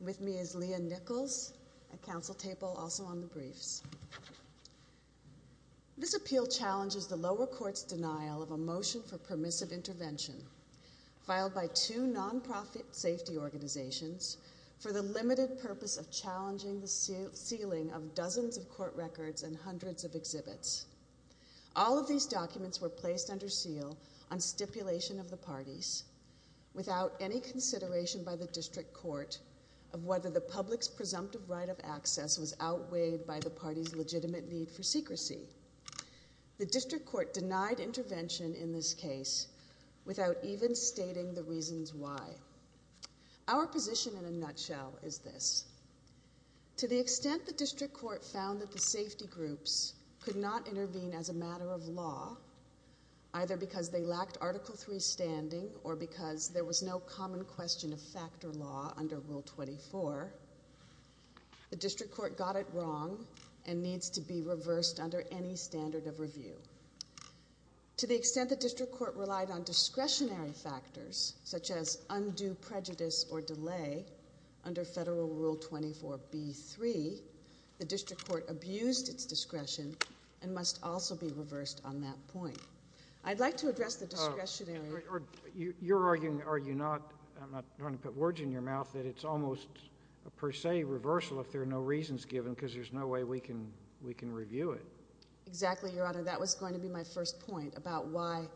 With me is Leah Nichols at Council Table, also on the briefs. This appeal challenges the lower court's denial of a motion for permissive intervention filed by two non-profit safety organizations for the limited purpose of challenging the sealing of dozens of court records and hundreds of exhibits. All of these documents were placed under seal on stipulation of the parties without any consideration by the district court of whether the public's presumptive right of access was outweighed by the party's legitimate need for secrecy. The district court denied intervention in this case without even stating the reasons why. Our position in a nutshell is this. To the extent the district court found that the safety groups could not intervene as a matter of law, either because they lacked Article III standing or because there was no common question of factor law under Rule 24, the district court got it wrong and needs to be reversed under any standard of review. To the extent the district court relied on discretionary factors, such as undue prejudice or delay, under Federal Rule 24b-3, the district court abused its discretion and must also be reversed on that point. I'd like to address the discretionary... You're arguing, are you not, I'm not trying to put words in your mouth, that it's almost a per se reversal if there are no reasons given because there's no way we can review it. Exactly, Your Honor. That was going to be my first point about why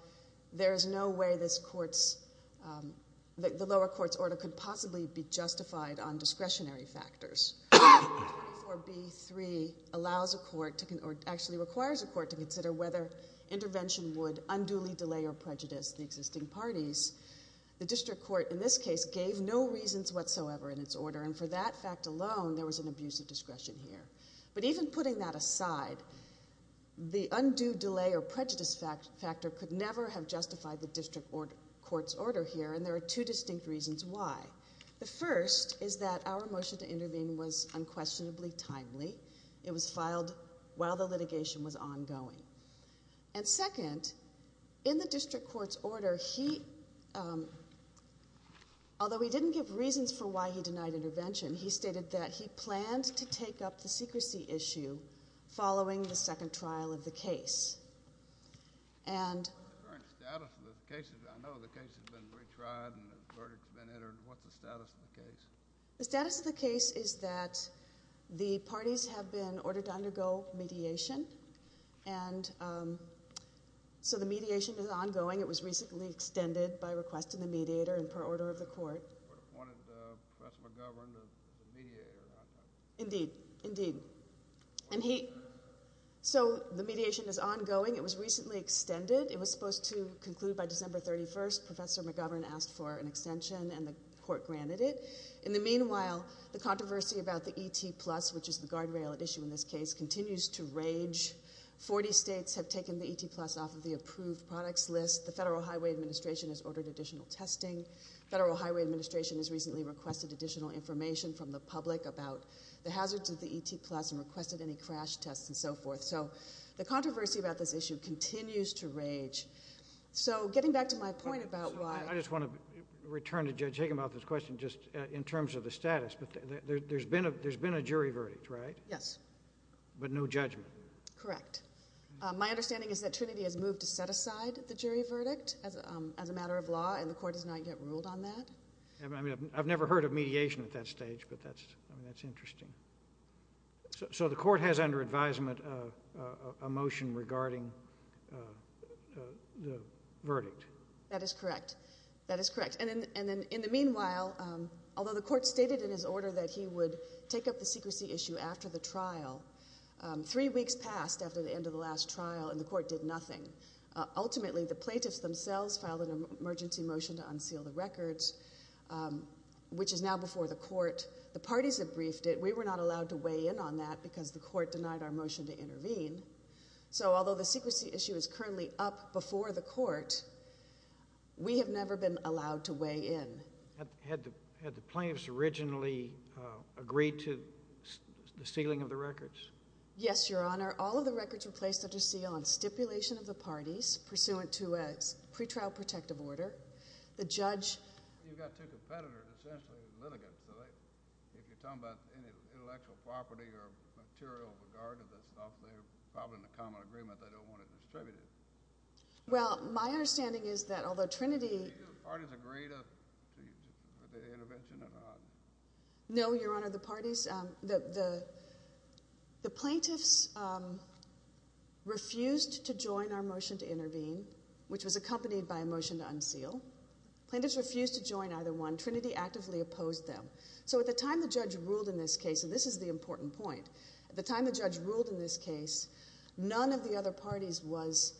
there is no way this court's, the lower court's order could possibly be justified on discretionary factors. Rule 24b-3 allows a court, or actually requires a court, to consider whether intervention would unduly delay or prejudice the existing parties. The district court, in this case, gave no reasons whatsoever in its order, and for that fact alone, there was an abuse of discretion here. But even putting that aside, the undue delay or prejudice factor could never have justified the district court's order here, and there are two distinct reasons why. The first is that our motion to intervene was unquestionably timely. It was filed while the litigation was ongoing. And second, in the district court's order, he, although he didn't give reasons for why he denied intervention, he stated that he planned to take up the secrecy issue following the second trial of the case. And... The status of the case is that the parties have been ordered to undergo mediation, and so the mediation is ongoing. It was recently extended by request of the mediator and per order of the court. Indeed. Indeed. And he, so the mediation is ongoing. It was recently extended. It was supposed to conclude by December 31st. Professor McGovern asked for an extension, and the court granted it. In the meanwhile, the controversy about the E.T. Plus, which is the guardrail at issue in this case, continues to rage. Forty states have taken the E.T. Plus off of the approved products list. The Federal Highway Administration has ordered additional testing. Federal Highway Administration has recently requested additional information from the public about the hazards of the E.T. Plus and requested any crash tests and so forth. So the controversy about this issue continues to rage. So getting back to my point about why... I just want to return to Judge Higginbotham's question just in terms of the status. There's been a jury verdict, right? Yes. But no judgment. Correct. My understanding is that Trinity has moved to set aside the jury verdict as a matter of law, and the court has not yet ruled on that. I've never heard of mediation at that stage, but that's interesting. So the court has under advisement a motion regarding the verdict. That is correct. That is correct. And then in the meanwhile, although the court stated in his order that he would take up the secrecy issue after the trial, three weeks passed after the end of the last trial, and the court did nothing. Ultimately, the plaintiffs themselves filed an emergency motion to unseal the records, which is now before the court. The parties that briefed it, we were not allowed to weigh in on that because the court denied our motion to intervene. So although the secrecy issue is currently up before the court, we have never been allowed to weigh in. Had the plaintiffs originally agreed to the sealing of the records? Yes, Your Honor. All of the records were placed under seal on stipulation of the parties pursuant to a pretrial protective order. The judge... You've got two competitors, essentially, litigants. If you're talking about any intellectual property or material with regard to the stuff, they're probably in a common agreement. They don't want it distributed. Well, my understanding is that although Trinity... Did the parties agree to the intervention or not? No, Your Honor. The parties... The plaintiffs refused to join our motion to intervene, which was accompanied by a motion to unseal. Plaintiffs refused to join either one. Trinity actively opposed them. So at the time the judge ruled in this case, and this is the important point, at the time the judge ruled in this case, none of the other parties was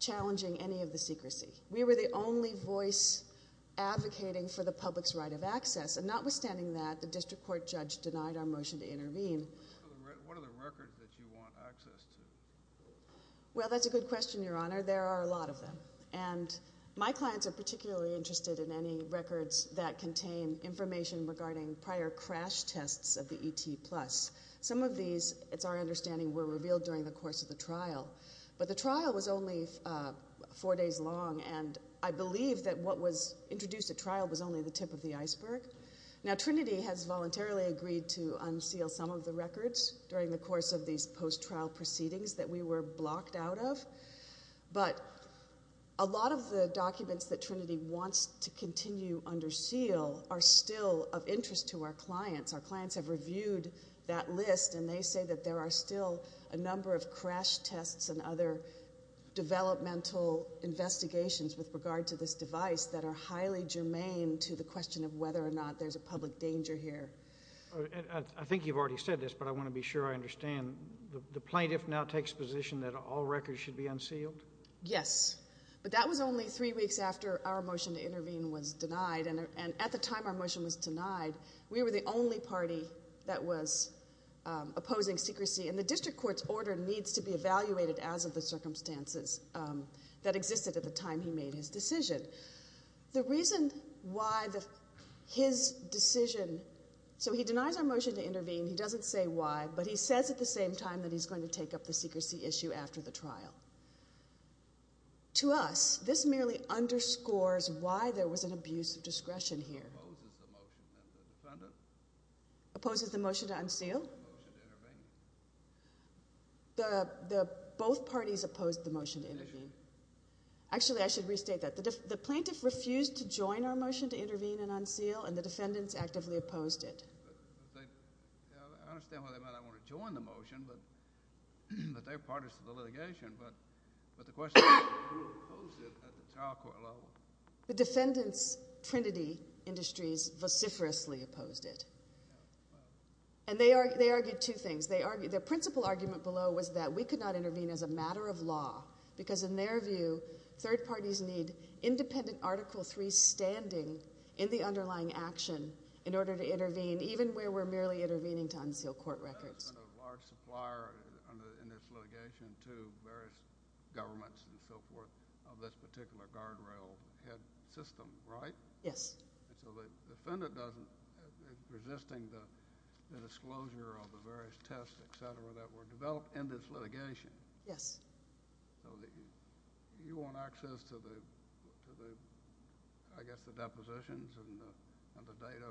challenging any of the secrecy. We were the only voice advocating for the public's right of access. And notwithstanding that, the district court judge denied our motion to intervene. What are the records that you want access to? Well, that's a good question, Your Honor. There are a lot of them. And my clients are particularly interested in any records that contain information regarding prior crash tests of the ET+. Some of these, it's our understanding, were revealed during the course of the trial. But the trial was only four days long, and I believe that what was introduced at trial was only the tip of the iceberg. Now, Trinity has voluntarily agreed to unseal some of the records during the course of these post-trial proceedings that we were blocked out of. But a lot of the documents that Trinity wants to continue under seal are still of interest to our clients. Our clients have reviewed that list, and they say that there are still a number of crash tests and other developmental investigations with regard to this device that are highly germane to the question of whether or not there's a public danger here. I think you've already said this, but I want to be sure I understand. The plaintiff now takes position that all records should be unsealed? Yes. But that was only three weeks after our motion to intervene was denied. And at the time our motion was denied, we were the only party that was opposing secrecy. And the district court's order needs to be evaluated as of the circumstances that existed at the time he made his decision. The reason why his decision... So he denies our motion to intervene. He doesn't say why, but he says at the same time that he's going to take up the secrecy issue after the trial. To us, this merely underscores why there was an abuse of discretion here. The plaintiff opposes the motion, and the defendant? Opposes the motion to unseal? Opposes the motion to intervene. Both parties opposed the motion to intervene. Actually, I should restate that. The plaintiff refused to join our motion to intervene and unseal, and the defendants actively opposed it. I understand why they might not want to join the motion, but they're partners to the litigation. But the question is who opposed it at the trial court level? The defendants, Trinity Industries, vociferously opposed it. And they argued two things. Their principal argument below was that we could not intervene as a matter of law, because in their view, third parties need independent Article III standing in the underlying action in order to intervene, even where we're merely intervening to unseal court records. There's been a large supplier in this litigation to various governments and so forth of this particular guardrail head system, right? Yes. And so the defendant doesn't, resisting the disclosure of the various tests, et cetera, that were developed in this litigation. Yes. So you want access to the, I guess, the depositions and the data?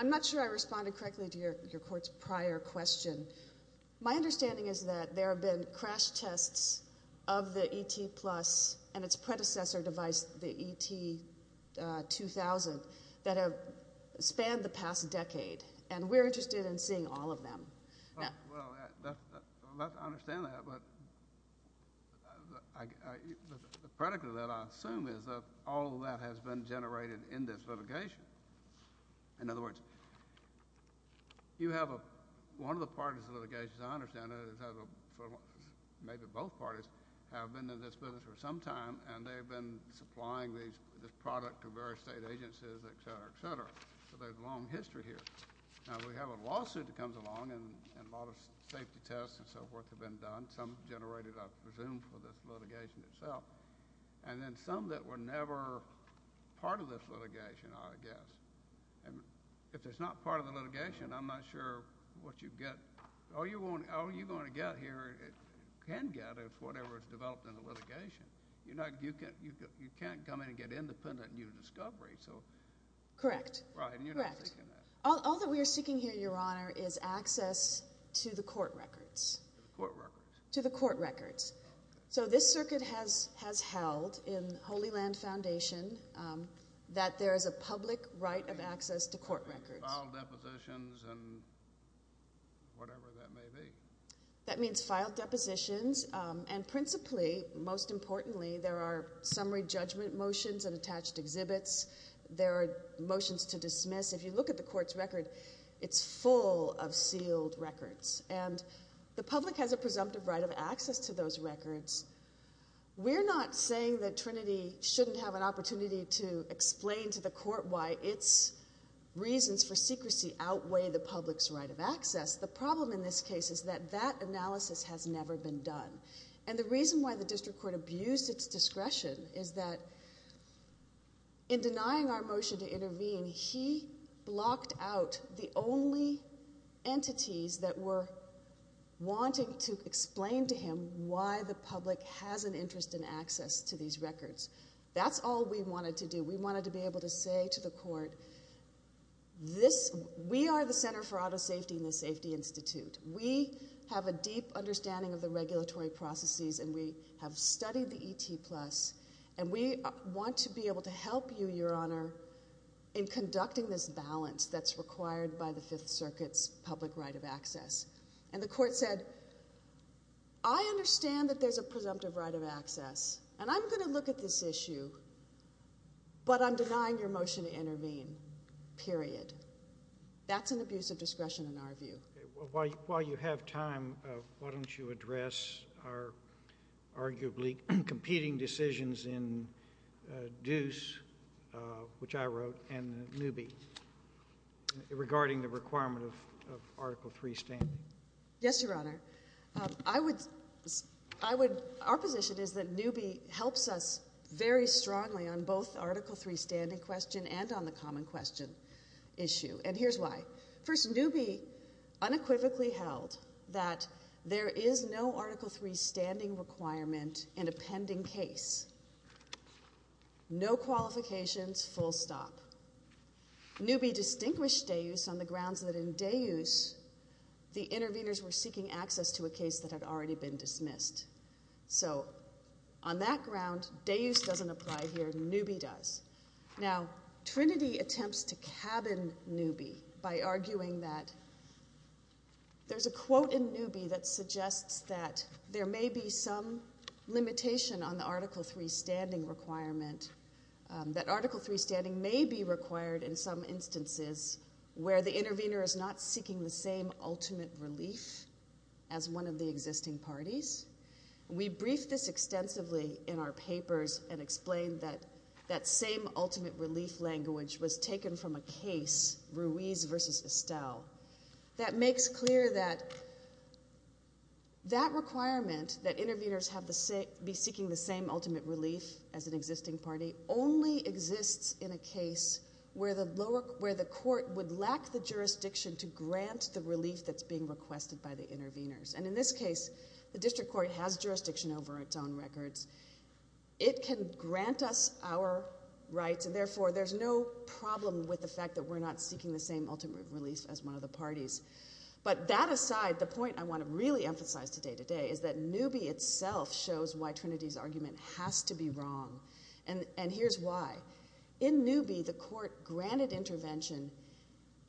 I'm not sure I responded correctly to your court's prior question. My understanding is that there have been crash tests of the ET Plus and its predecessor device, the ET 2000, that have spanned the past decade, and we're interested in seeing all of them. Well, I understand that, but the predicate of that, I assume, is that all of that has been generated in this litigation. In other words, you have a, one of the parties in the litigation, as I understand it, maybe both parties, have been in this business for some time, and they've been supplying this product to various state agencies, et cetera, et cetera. So there's a long history here. Now, we have a lawsuit that comes along, and a lot of safety tests and so forth have been done. Some generated, I presume, for this litigation itself. And then some that were never part of this litigation, I guess. And if it's not part of the litigation, I'm not sure what you get. All you're going to get here, can get, is whatever is developed in the litigation. You know, you can't come in and get independent new discovery. Correct. Right, and you're not seeking that. All that we are seeking here, Your Honor, is access to the court records. To the court records. To the court records. The court has held, in Holy Land Foundation, that there is a public right of access to court records. Filed depositions and whatever that may be. That means filed depositions, and principally, most importantly, there are summary judgment motions and attached exhibits. There are motions to dismiss. If you look at the court's record, it's full of sealed records. And the public has a presumptive right of access to those records. We're not saying that Trinity shouldn't have an opportunity to explain to the court why its reasons for secrecy outweigh the public's right of access. The problem in this case is that that analysis has never been done. And the reason why the district court abused its discretion is that in denying our motion to intervene, we're not saying why the public has an interest in access to these records. That's all we wanted to do. We wanted to be able to say to the court, we are the Center for Auto Safety and the Safety Institute. We have a deep understanding of the regulatory processes, and we have studied the ET Plus, and we want to be able to help you, Your Honor, in conducting this balance that's required by the Fifth Circuit's public right of access. And the court said, I understand that there's a presumptive right of access, and I'm going to look at this issue, but I'm denying your motion to intervene, period. That's an abuse of discretion in our view. While you have time, why don't you address our arguably competing decisions in Deuce, which I wrote, and Newby, regarding the requirement of Article III standing. Yes, Your Honor. Our position is that Newby helps us very strongly on both Article III standing questions and on the common question issue, and here's why. First, Newby unequivocally held that there is no Article III standing requirement in a pending case. No qualifications, full stop. Newby distinguished Deuce on the grounds that in Deuce, the interveners were seeking access to a case that had already been dismissed. So on that ground, Deuce doesn't apply here, Newby does. Now, Trinity attempts to cabin Newby by arguing that there's a quote in Newby that suggests that there may be some limitation on the Article III standing requirement, that Article III standing may be required in some instances where the intervener is not seeking the same ultimate relief as one of the existing parties. We briefed this extensively in our papers and explained that that same ultimate relief language was taken from a case, Ruiz v. Estelle, that makes clear that that requirement, that interveners be seeking the same ultimate relief as an existing party, only exists in a case where the court would lack the jurisdiction to grant the relief that's being requested by the interveners. And in this case, the district court has jurisdiction over its own records. It can grant us our rights, and therefore there's no problem with the fact that we're not seeking the same ultimate relief as one of the parties. But that aside, the point I want to really emphasize today is that Newby itself shows why Trinity's argument has to be wrong, and here's why. In Newby, the court granted intervention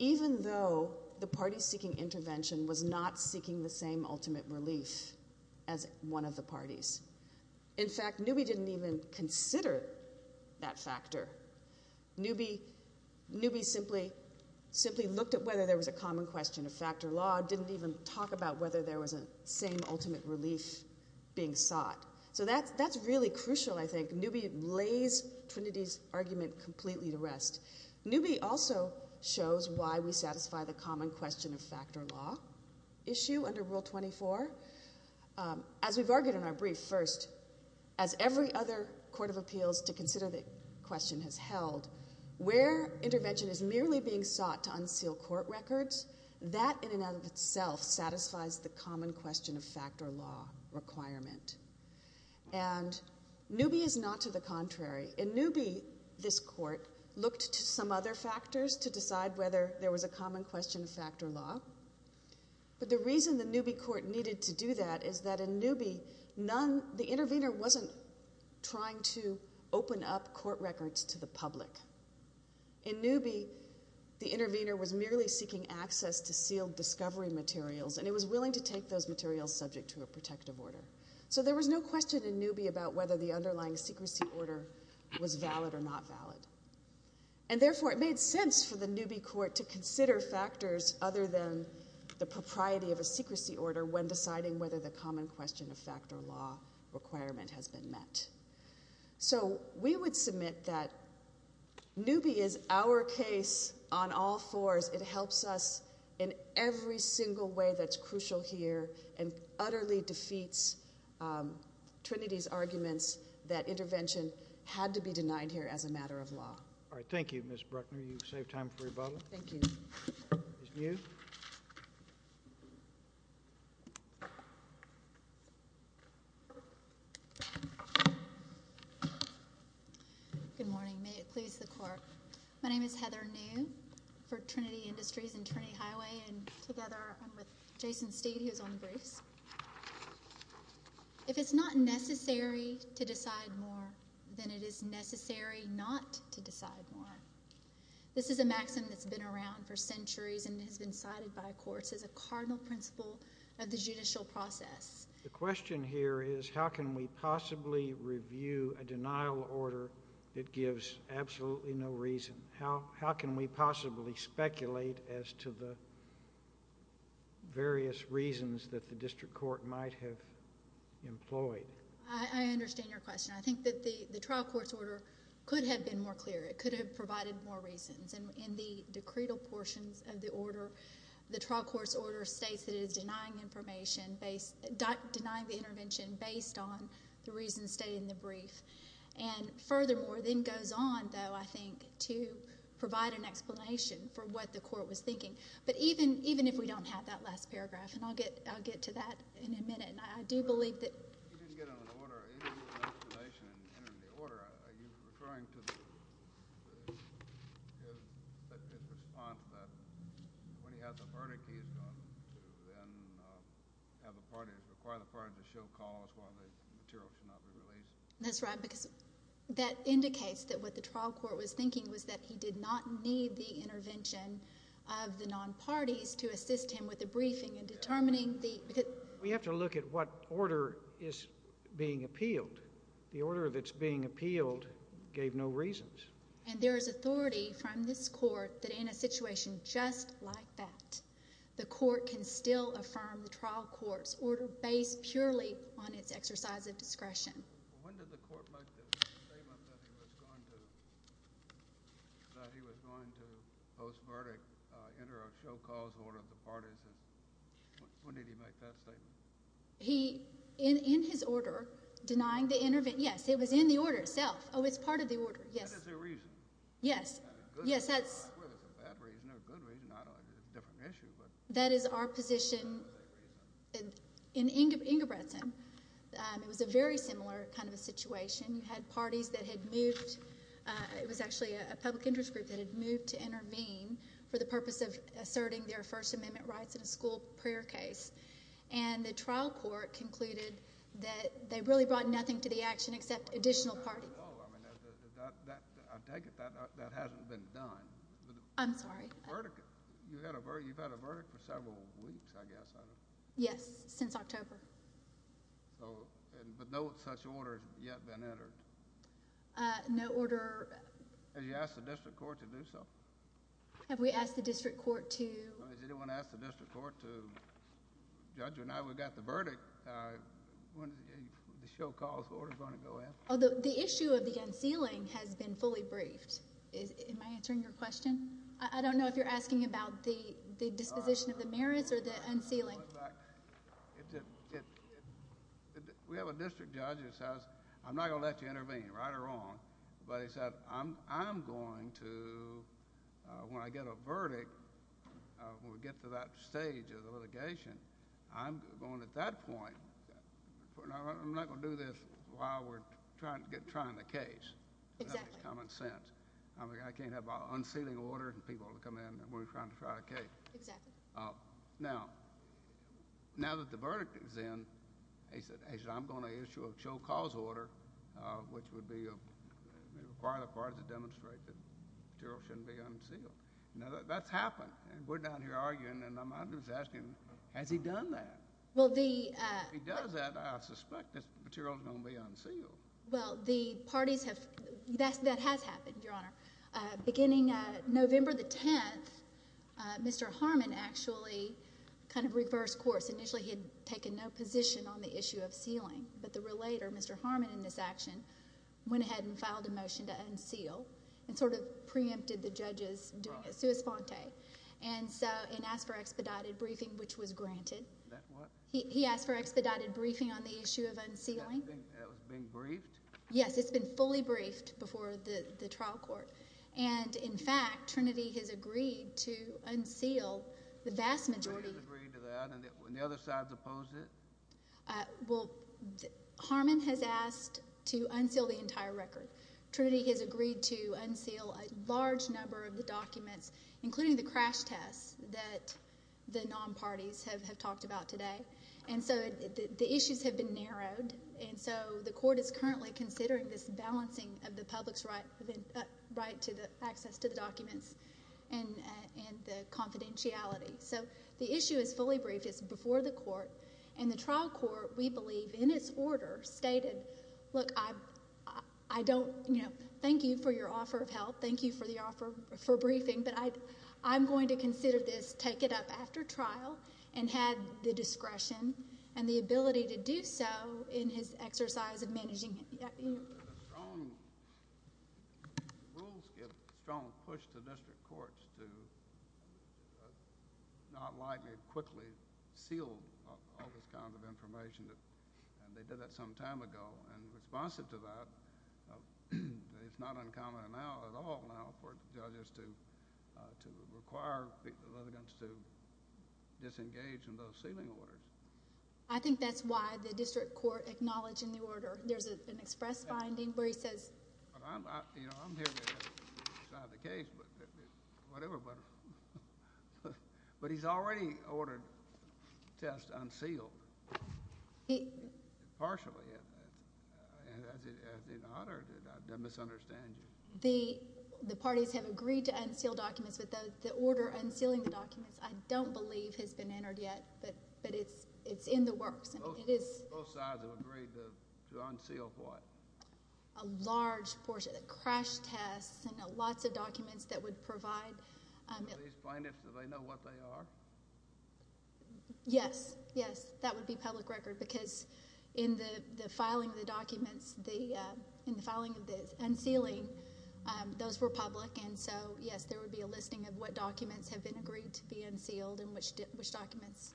even though the party seeking intervention was not seeking the same ultimate relief as one of the parties. In fact, Newby didn't even consider that factor. Newby simply looked at whether there was a common question of factor law, didn't even talk about whether there was a same ultimate relief being sought. So that's really crucial, I think. Newby lays Trinity's argument completely to rest. Newby also shows why we satisfy the common question of factor law issue under Rule 24. As we've argued in our brief, first, as every other court of appeals to consider the question has held, where intervention is merely being sought to unseal court records, that in and of itself satisfies the common question of factor law requirement. And Newby is not to the contrary. In Newby, this court looked to some other factors to decide whether there was a common question of factor law. But the reason the Newby court needed to do that is that in Newby, the intervener wasn't trying to open up court records to the public. In Newby, the intervener was merely seeking access to sealed discovery materials, and it was willing to take those materials subject to a protective order. There was no question in Newby about whether the underlying secrecy order was valid or not valid. And therefore, it made sense for the Newby court to consider factors other than the propriety of a secrecy order when deciding whether the common question of factor law requirement has been met. So we would submit that Newby is our case on all fours. It helps us in every single way that's crucial here and utterly defeats Trinity's arguments that intervention had to be denied here as a matter of law. All right, thank you, Ms. Bruckner. You save time for rebuttal. Thank you. Ms. New? Good morning. May it please the court. My name is Heather New for Trinity Industries and Trinity Highway, and together I'm with Jason Steed, who's on the briefs. If it's not necessary to decide more, then it is necessary not to decide more. This is a maxim that's been around for centuries and has been cited by courts as a cardinal principle of the judicial process. The question here is how can we possibly review a denial order that gives absolutely no reason? How can we possibly speculate as to the various reasons that the district court might have employed? I understand your question. I think that the trial court's order could have been more clear. It could have provided more reasons. And in the decretal portions of the order, the trial court's order states that it is denying the intervention based on the reasons stated in the brief. And furthermore, then goes on, though, I think, to provide an explanation for what the court was thinking. But even if we don't have that last paragraph, and I'll get to that in a minute, and I do believe that... That's right, because that indicates that what the trial court was thinking was that he did not need the intervention of the non-parties to assist him with the briefing in determining the... We have to look at what order is being appealed. The order that's being appealed gave no reasons. And there is authority from this court that in a situation just like that, the court can still affirm the trial court's order based purely on its exercise of discretion. He said that he was going to, post-verdict, enter a show-cause order of the parties. When did he make that statement? He, in his order, denying the intervention... Yes, it was in the order itself. Oh, it's part of the order, yes. That is a reason. Yes, yes, that's... I swear there's a bad reason or a good reason. I don't know, it's a different issue, but... That is our position in Ingebrigtsen. It was a very similar kind of a situation. You had parties that had moved... It was actually a public interest group that had moved to intervene for the purpose of asserting their First Amendment rights in a school prayer case. And the trial court concluded that they really brought nothing to the action except additional parties. I take it that hasn't been done. I'm sorry? You've had a verdict for several weeks, I guess. Yes, since October. But no such order has yet been entered. No order... Have you asked the district court to do something? Have we asked the district court to... Has anyone asked the district court to... Judge, now that we've got the verdict, when is the show cause order going to go in? The issue of the unsealing has been fully briefed. Am I answering your question? I don't know if you're asking about the disposition of the merits or the unsealing. We have a district judge who says, I'm not going to let you intervene, right or wrong. But he said, I'm going to, when I get a verdict, when we get to that stage of the litigation, I'm going to, at that point, I'm not going to do this while we're trying to get, trying the case. Exactly. That makes common sense. I can't have unsealing order and people come in when we're trying to try a case. Exactly. Now that the verdict is in, he said, I'm going to issue a show cause order, which would require the parties to demonstrate that the material shouldn't be unsealed. Now, that's happened. We're down here arguing, and I'm asking, has he done that? If he does that, I suspect this material is going to be unsealed. Well, the parties have, that has happened, Your Honor. Beginning November the 10th, Mr. Harmon actually kind of reversed course. Initially, he had taken no position on the issue of sealing, but the relator, Mr. Harmon, in this action, went ahead and filed a motion to unseal and sort of preempted the judges doing a sua sponte and asked for expedited briefing, which was granted. He asked for expedited briefing on the issue of unsealing. That was being briefed? Yes, it's been fully briefed before the trial court. And, in fact, Trinity has agreed to unseal the vast majority. Trinity has agreed to that, and the other side has opposed it? Well, Harmon has asked to unseal the entire record. Trinity has agreed to unseal a large number of the documents, including the crash tests, that the non-parties have talked about today. And so the issues have been narrowed, and so the court is currently considering this balancing of the public's right to the access to the documents and the confidentiality. So the issue is fully briefed. It's before the court, and the trial court, we believe, in its order, stated, look, I don't, you know, thank you for your offer of help. Thank you for the offer for briefing, but I'm going to consider this, take it up after trial, and have the discretion and the ability to do so in his exercise of managing it. Strong rules get strong pushed against the district courts to not likely quickly seal all this kind of information. And they did that some time ago, and responsive to that, it's not uncommon now, at all now, for judges to require the litigants to disengage in those sealing orders. I think that's why the district court acknowledged in the order, there's an express finding where he says. You know, I'm here to decide the case, whatever, but, but he's already ordered the test unsealed. Partially, and as an honor, I don't misunderstand you. The parties have agreed to unseal documents, but the order unsealing the documents, I don't believe has been entered yet, but it's in the works. Both sides have agreed to unseal what? A large portion, a crash test, to provide. Do these plaintiffs, do they know what they are? Yes, yes. That would be public record, because in the filing of the documents, in the filing of the unsealing, those were public, and so, yes, there would be a listing of what documents have been agreed to be unsealed, and which documents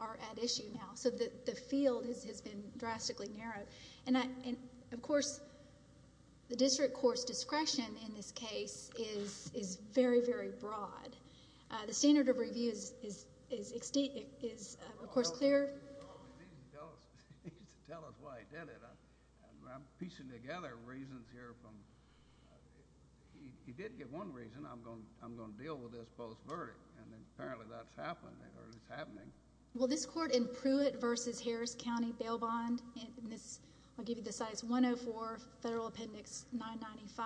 are at issue now. So the field has been drastically narrowed. And of course, the district court's discretion, in this case, is very, very broad. The standard of review is, of course, clear. He didn't tell us, he didn't tell us why he did it. I'm piecing together reasons here from, he did give one reason, I'm going to deal with this post-verdict, and apparently that's happening, or it's happening. Well, this court in Pruitt versus Harris County bail bond, and this, I'll give you the size, 104 Federal Appendix 995,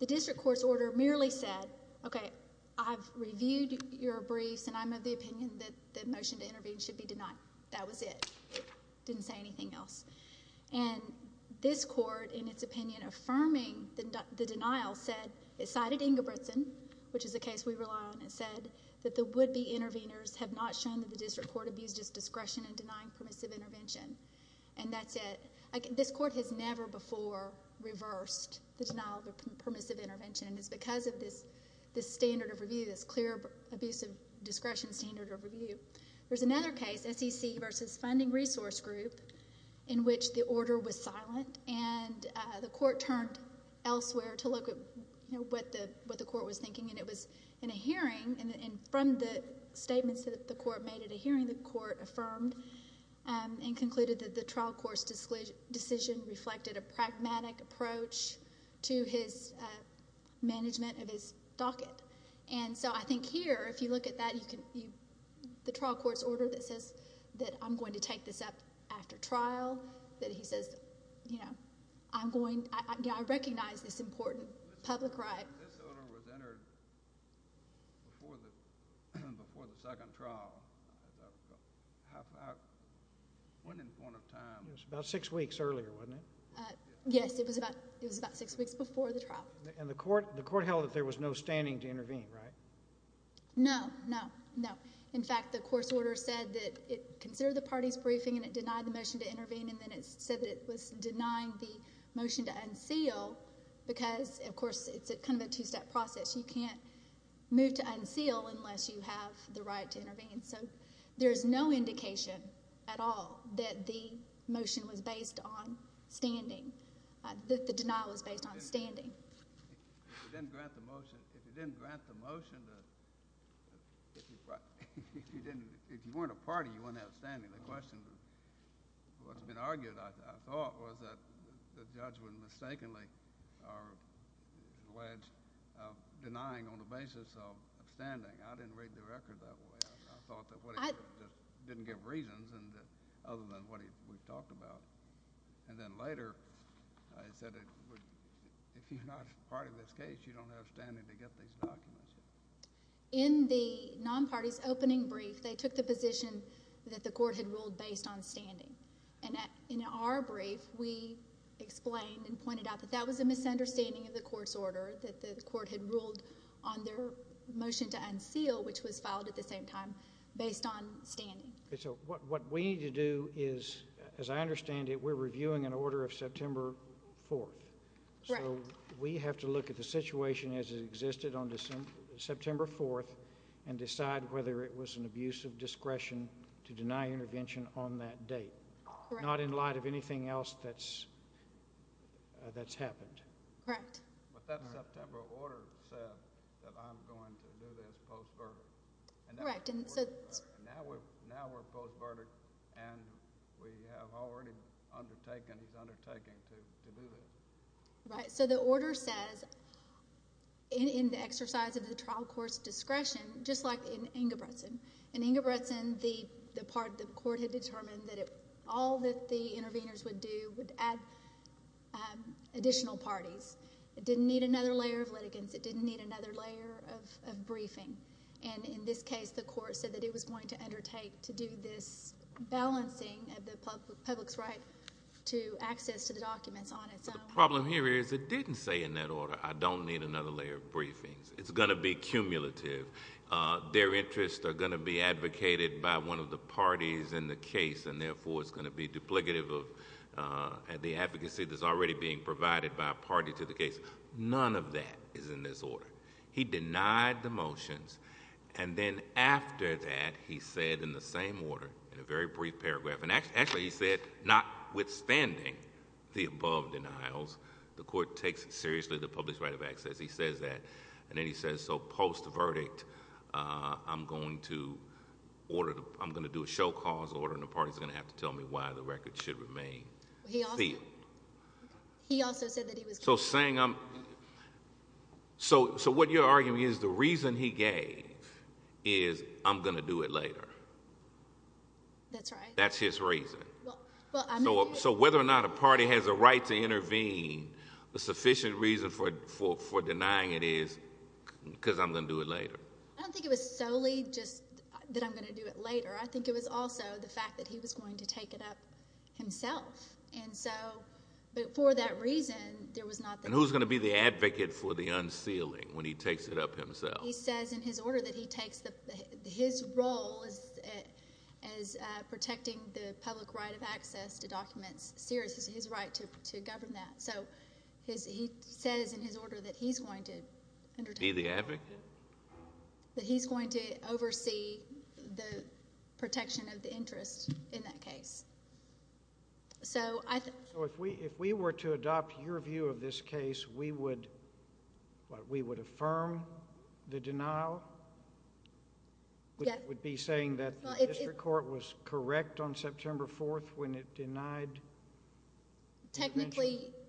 the district court's order merely said, okay, I've reviewed your briefs, and I'm of the opinion that the motion to intervene should be denied. That was it. Didn't say anything else. And this court, in its opinion, affirming the denial said, it cited Ingebrigtsen, which is a case we rely on, and said that the would-be interveners have not shown that the district court abused its discretion in denying permissive intervention. And that's it. This court has never before reversed the denial of a permissive intervention, and it's because of this standard of review, this clear abuse of discretion standard of review. There's another case, SEC versus Funding Resource Group, in which the order was silent, and the court turned elsewhere to look at what the court was thinking, and it was in a hearing, and from the statements that the court made at a hearing, the court affirmed and concluded that the trial court's decision reflected a pragmatic approach to his management of his docket. And so I think here, if you look at that, the trial court's order that says that I'm going to take this up after trial, that he says, I recognize this important public right. When this order was entered before the second trial, at about a half-out winning point of time. It was about six weeks earlier, wasn't it? Yes, it was about six weeks before the trial. And the court held that there was no standing to intervene, right? No, no, no. In fact, the course order said that it considered the party's briefing, and it denied the motion to intervene, and then it said that it was denying the motion to unseal, and that's a two-step process. You can't move to unseal unless you have the right to intervene. So there's no indication at all that the motion was based on standing, that the denial was based on standing. If you didn't grant the motion, if you didn't grant the motion, if you weren't a party, you wouldn't have standing. The question, what's been argued, I thought, was that the judge would mistakenly or alleged denying on the basis of standing. I didn't read the record that way. I thought that it didn't give reasons other than what we've talked about. And then later, I said, if you're not a part of this case, you don't have standing to get these documents. In the non-party's opening brief, they took the position that the court had ruled based on standing. And in our brief, we explained and pointed out the understanding of the court's order, that the court had ruled on their motion to unseal, which was filed at the same time, based on standing. Okay, so what we need to do is, as I understand it, we're reviewing an order of September 4th. Correct. So we have to look at the situation as it existed on September 4th and decide whether it was an abuse of discretion to deny intervention on that date. Correct. Not in light of anything else that's happened. Correct. But that September order said that I'm going to do this post-verdict. Correct. And now we're post-verdict and we have already undertaken, he's undertaken to do this. Right. So the order says, in the exercise of the trial court's discretion, just like in Ingebrigtsen. In Ingebrigtsen, the court had determined that all that the interveners would do would add additional parties. It didn't need another layer of litigants. It didn't need another layer of briefing. And in this case, the court said that it was going to undertake to do this balancing of the public's right to access to the documents on its own. The problem here is it didn't say in that order, I don't need another layer of briefings. It's going to be cumulative. Their interests are going to be advocated by one of the parties in the case and therefore it's going to be duplicative of the advocacy that's already being provided by a party to the case. None of that is in this order. He denied the motions and then after that, he said in the same order, in a very brief paragraph, and actually he said, notwithstanding the above denials, the court takes seriously the public's right of access. He says that and then he says, so post-verdict, I'm going to order, I'm going to do a show cause order and the party's going to have to tell me why the record should remain sealed. He also said that he was... So saying I'm... So what you're arguing is the reason he gave is I'm going to do it later. That's right. That's his reason. So whether or not a party has a right to intervene, the sufficient reason for denying it is because I'm going to do it later. I don't think it was solely just that I'm going to do it later. It was the fact that he was going to take it up himself. And so for that reason, there was not... And who's going to be the advocate for the unsealing when he takes it up himself? He says in his order that he takes, his role is protecting the public right of access to documents, serious is his right to govern that. So he says in his order that he's going to undertake... Be the advocate? That he's going to oversee the protection of the interest in that case. So I... So if we were to adopt your view of this case, we would affirm the denial? Yes. Would it be saying that the district court was correct on September 4th when it denied intervention?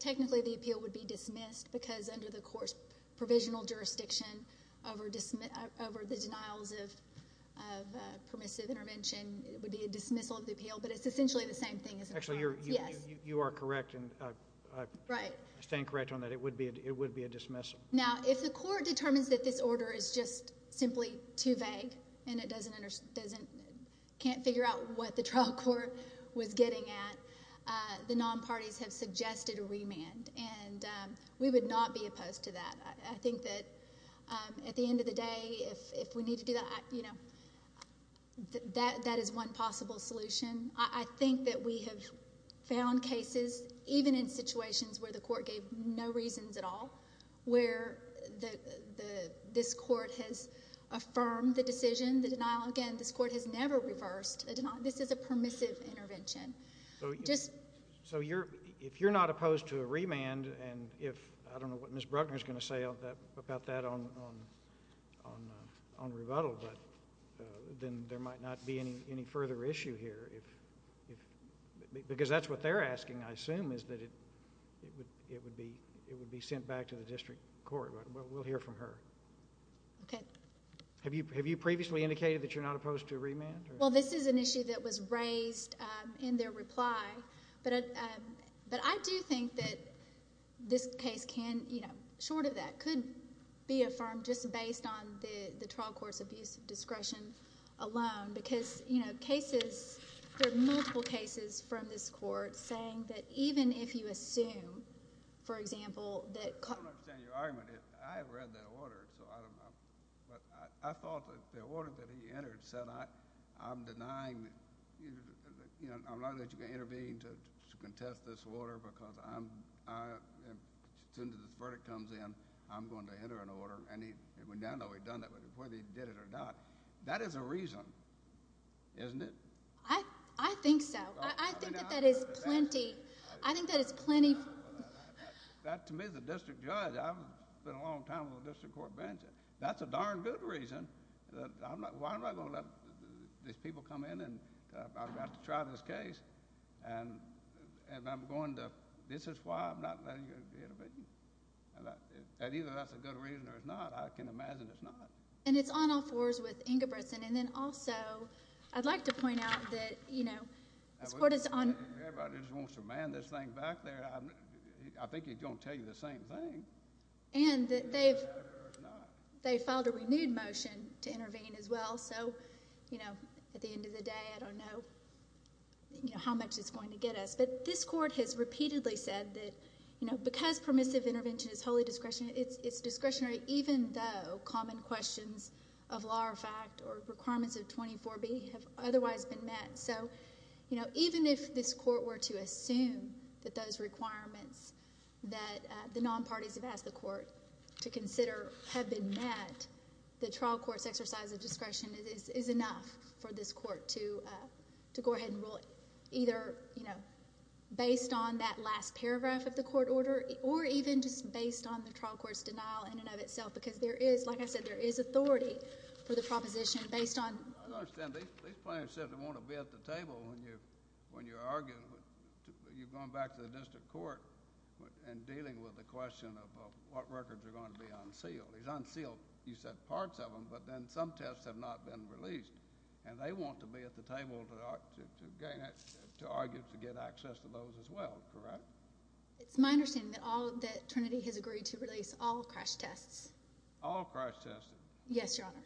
Technically, the appeal would be dismissed because under the court's provisional jurisdiction over the denials of permissive intervention, it would be a dismissal of the appeal. But it's essentially the same thing as... Actually, you are correct. Right. I stand correct on that. It would be a dismissal. Now, if the court determines that this order is just simply too vague and it can't figure out what the trial court was getting at, the non-parties have suggested a remand. And we would not be opposed to that. I think that at the end of the day, if we need to do that, you know, that is one possible solution. I think that we have found cases, even in situations where the court gave no reasons at all, where this court has affirmed the decision, the denial again. This court has never reversed a denial. This is a permissive intervention. So if you're not opposed to a remand, and if... I'm not going to go into detail about that on rebuttal, but then there might not be any further issue here. Because that's what they're asking, I assume, is that it would be sent back to the district court. But we'll hear from her. Okay. Have you previously indicated that you're not opposed to a remand? Well, this is an issue that was raised in their reply. But I do think that this case can... That could be affirmed just based on the trial court's abuse of discretion alone. Because, you know, cases... There are multiple cases from this court saying that even if you assume, for example, that... I don't understand your argument. I have read that order, so I don't know. But I thought that the order that he entered said, I'm denying... You know, I'm not going to let you intervene to contest this order because I'm... As soon as this verdict comes in, I'm going to enter an order. And we don't know whether he did it or not. That is a reason, isn't it? I think so. I think that that is plenty. I think that is plenty... To me, as a district judge, I've been a long time on the district court bench. That's a darn good reason. Why am I going to let these people come in and I've got to try this case? And I'm going to... This is why I'm not letting you intervene. Either that's a good reason or it's not. I can imagine it's not. And it's on all fours with Ingebrigtsen. And then also, I'd like to point out that, you know... Everybody just wants to man this thing back there. I think he's going to tell you the same thing. And that they've... They filed a renewed motion to intervene as well. So, you know, at the end of the day, I don't know how much it's going to get us. But this court has repeatedly said that, you know, because permissive intervention is wholly discretionary, it's discretionary even though common questions of law or fact or requirements of 24B have otherwise been met. So, you know, even if this court were to assume that those requirements that the non-parties have asked the court to consider have been met, the trial court's exercise of discretion is enough for this court to go ahead and rule either, you know, based on that last paragraph of the court order or even just based on the trial court's denial in and of itself. Because there is, like I said, there is authority for the proposition based on... I don't understand. These plaintiffs said they want to be at the table when you're arguing. You've gone back to the district court and dealing with the question of what records are going to be unsealed. These unsealed, you said, parts of them, but then some tests have not been released. And they want to be at the table to argue to get access to those as well. Correct? It's my understanding that Trinity has agreed to release all crash tests. All crash tests? Yes, Your Honor.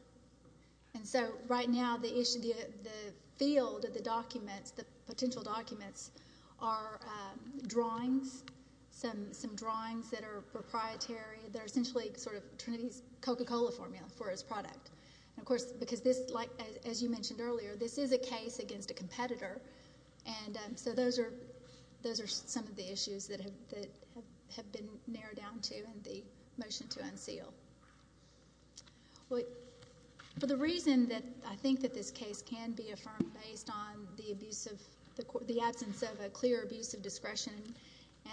And so right now the issue, the field of the documents, the potential documents are drawings, some drawings that are proprietary, that are essentially sort of Trinity's Coca-Cola formula for its product. And of course, because this, as you mentioned earlier, and so those are, those are some of the issues that have been narrowed down to in the motion to unseal. Well, for the reason that I think that this case can be affirmed based on the abuse of, the absence of a clear abuse of discretion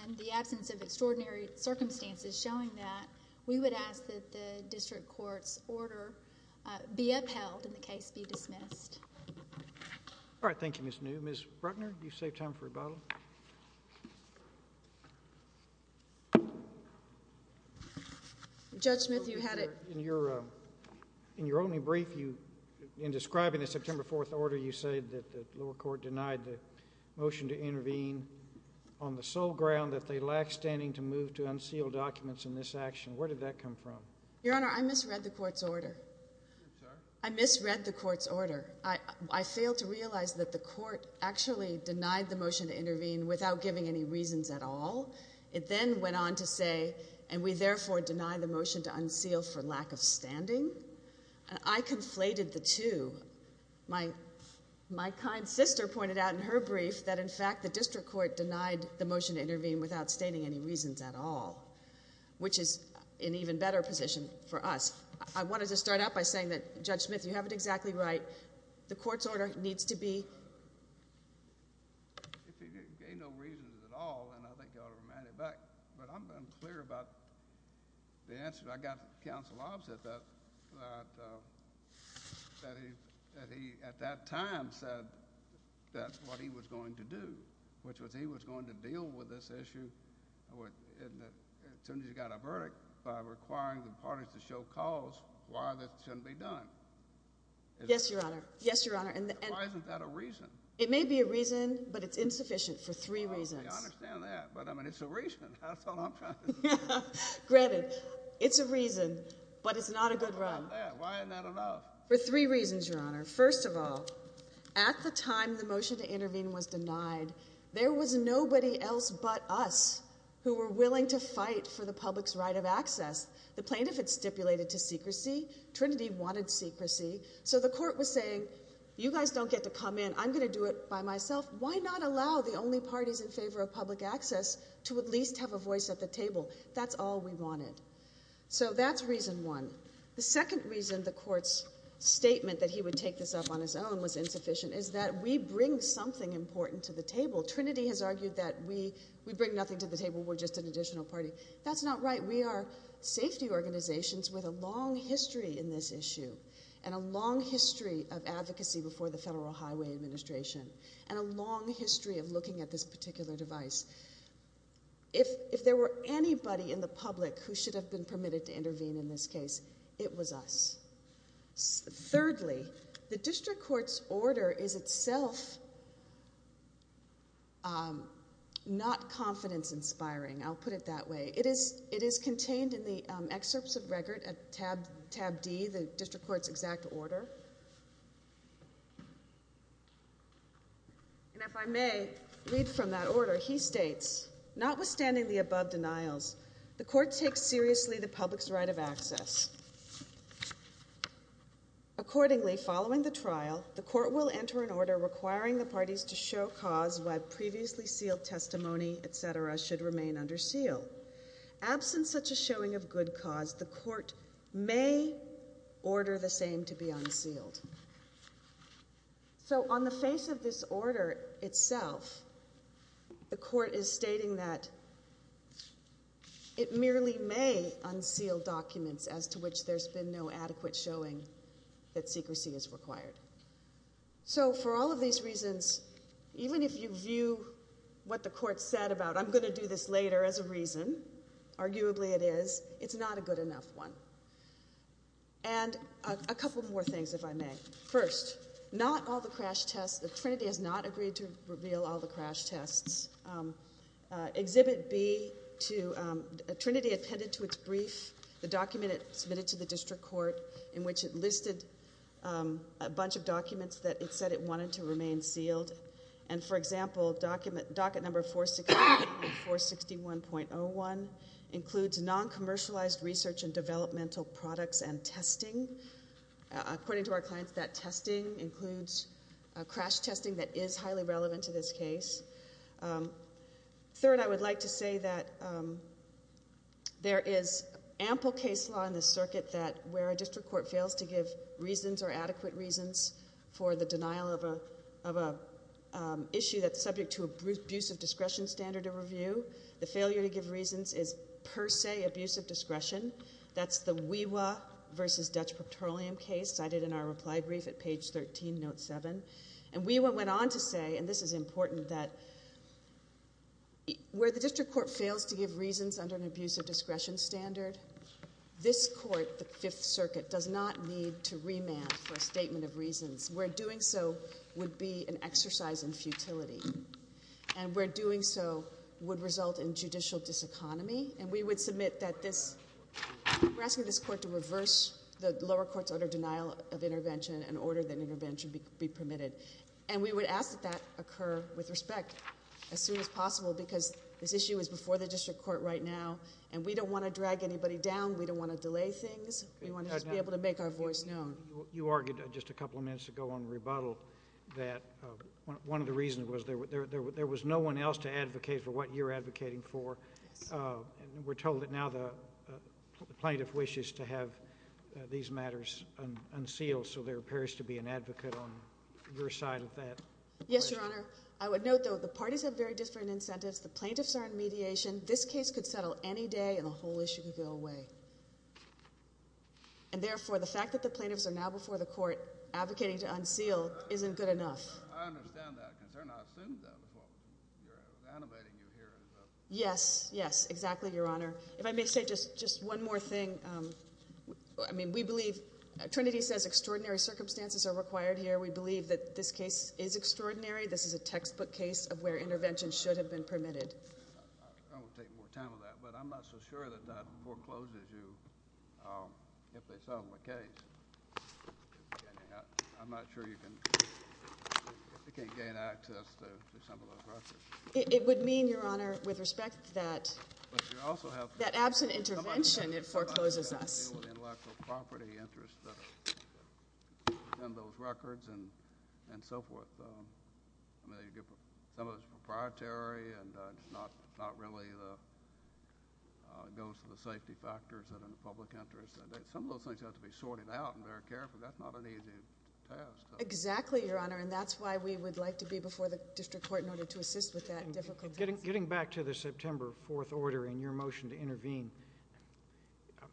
and the absence of extraordinary circumstances showing that, we would ask that the district court's order be upheld and the case be dismissed. All right. Thank you, Ms. New. Ms. Bruckner, you saved time for rebuttal. Judge Smith, you had it. In your only brief, in describing the September 4th order, you say that the lower court denied the motion to intervene on the sole ground that they lack standing to move to unsealed documents in this action. Where did that come from? Your Honor, I misread the court's order. I misread the court's order. The court actually denied the motion to intervene without giving any reasons at all. It then went on to say, and we therefore deny the motion to unseal for lack of standing. I conflated the two. My kind sister pointed out in her brief that in fact the district court denied the motion to intervene without stating any reasons at all, which is an even better position for us. I wanted to start out by saying that, Judge Smith, you have it exactly right. The court's order needs to be... If he gave no reasons at all, then I think you ought to remind him back. But I'm unclear about the answer. I got counsel opposite that, that he at that time said that's what he was going to do, which was he was going to deal with this issue as soon as he got a verdict by requiring the parties to show cause why this shouldn't be done. Yes, Your Honor. Why isn't that a reason? It may be a reason, but it's insufficient for three reasons. I understand that, but it's a reason. Granted, it's a reason, but it's not a good run. Why isn't that enough? For three reasons, Your Honor. First of all, at the time the motion to intervene was denied, there was nobody else but us who were willing to fight for the public's right of access. The plaintiff had stipulated to secrecy. So the court was saying, you guys don't get to come in. I'm going to do it by myself. Why not allow the only parties in favor of public access to at least have a voice at the table? That's all we wanted. So that's reason one. The second reason the court's statement that he would take this up on his own was insufficient is that we bring something important to the table. Trinity has argued that we bring nothing to the table. We're just an additional party. That's not right. And a long history of advocacy before the Federal Highway Administration and a long history of looking at this particular device. If there were anybody in the public who should have been permitted to intervene in this case, it was us. Thirdly, the district court's order is itself not confidence-inspiring. I'll put it that way. It is contained in the excerpts of record at tab D, the district court's exact order. And if I may read from that order, he states, notwithstanding the above denials, the court takes seriously the public's right of access. Accordingly, following the trial, the court will enter an order requiring the parties to show cause why previously sealed testimony, et cetera, should remain under seal. Absent such a showing of good cause, may order the same to be unsealed. So on the face of this order itself, the court is stating that it merely may unseal documents as to which there's been no adequate showing that secrecy is required. So for all of these reasons, even if you view what the court said about I'm going to do this later as a reason, arguably it is, it's not a good enough one. And a couple more things, if I may. First, not all the crash tests, the Trinity has not agreed to reveal all the crash tests. Exhibit B, Trinity attended to its brief, the document it submitted to the district court in which it listed a bunch of documents that it said it wanted to remain sealed. And for example, docket number 461.01 includes non-commercialized research and developmental products and testing. According to our clients, that testing includes crash testing that is highly relevant to this case. Third, I would like to say that there is ample case law in the circuit that where a district court fails to give reasons or adequate reasons for the denial of a, of a issue that's subject to abuse of discretion standard of review, the failure to give reasons is per se abuse of discretion. That's the WEWA versus Dutch Petroleum case cited in our reply brief at page 13, note seven. And WEWA went on to say, and this is important, that where the district court fails to give reasons under an abuse of discretion standard, this court, the Fifth Circuit, does not need to remand for a statement of reasons. Where doing so would be an exercise in futility. And where doing so would result in judicial diseconomy. And we would submit that this, we're asking this court to reverse the lower court's order of denial of intervention and order that intervention be permitted. And we would ask that that occur with respect as soon as possible because this issue is before the district court right now and we don't want to drag anybody down. We don't want to delay things. We want to just be able to make our voice known. You argued just a couple of minutes ago on rebuttal that one of the reasons was there was no one else to advocate for what you're advocating for. Yes. And we're told that now the plaintiff wishes to have these matters unsealed so there appears to be an advocate on your side of that. Yes, Your Honor. I would note, though, the parties have very different incentives. The plaintiffs are in mediation. This case could settle any day and the whole issue could go away. And therefore, the fact that the plaintiffs are now before the court advocating to unseal isn't good enough. I understand that concern. Yes, exactly, Your Honor. If I may say just one more thing. I mean, we believe, Trinity says extraordinary circumstances are required here. We believe that this case is extraordinary. This is a textbook case of where intervention should have been permitted. I won't take more time on that, but I'm not so sure that that forecloses you if they settle the case. I'm not sure you can gain access to some of those records. It would mean, Your Honor, that absent intervention, it forecloses us. Intellectual property interests and those records and so forth. Some of it is proprietary and not really goes to the safety factors that are in the public interest. Some of those things have to be sorted out and very carefully. That's not an easy task. Exactly, Your Honor, and that's why we would like to be in a September 4th order in your motion to intervene.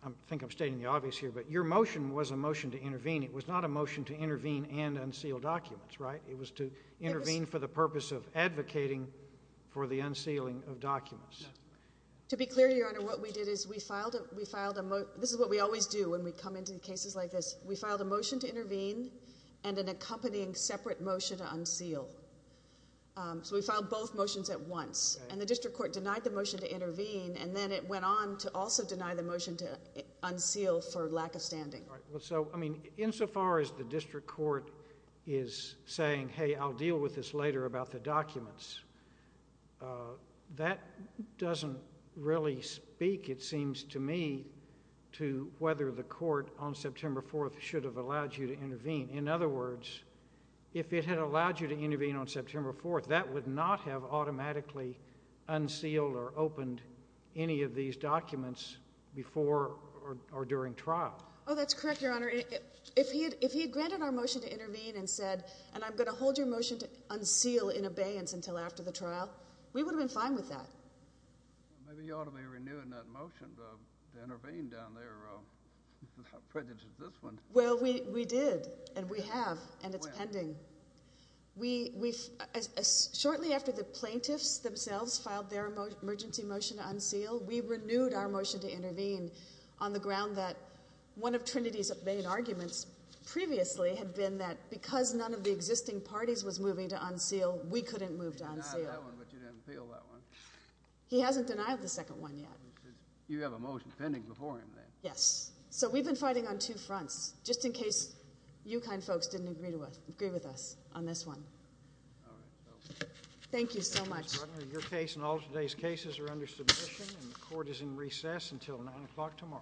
I think I'm stating the obvious here, but your motion was a motion to intervene. It was not a motion to intervene and unseal documents, right? It was to intervene for the purpose of advocating for the unsealing of documents. To be clear, Your Honor, what we did is we filed a motion. This is what we always do when we come into cases like this. We filed a motion to intervene and an accompanying separate motion to unseal. We filed both motions at once. The district court denied the motion to intervene and then it went on to also deny the motion to unseal for lack of standing. Insofar as the district court is saying, hey, I'll deal with this later about the documents, that doesn't really speak, it seems to me, to whether the court on September 4th should have allowed you to intervene. In other words, if it had allowed you to intervene on September 4th, that would not have automatically unsealed or opened any of these documents before or during trial. Oh, that's correct, Your Honor. If he had granted our motion to intervene and said, and I'm going to hold your motion to unseal in abeyance until after the trial, we would have been fine with that. Maybe you ought to be renewing that motion to intervene down there. How prejudiced is this one? Well, we did and we have and it's pending. Shortly after the plaintiffs themselves filed their emergency motion to unseal, we renewed our motion to intervene on the ground that one of Trinity's main arguments previously had been that because none of the existing parties was moving to unseal, we couldn't move to unseal. He denied that one, but you didn't appeal that one. He hasn't denied the second one yet. You have a motion pending before him then. Yes. So we've been fighting on two fronts, just in case you kind folks didn't agree with us on this one. All right. Thank you so much. Your case and all today's cases are under submission and the court is in recess until 9 o'clock tomorrow.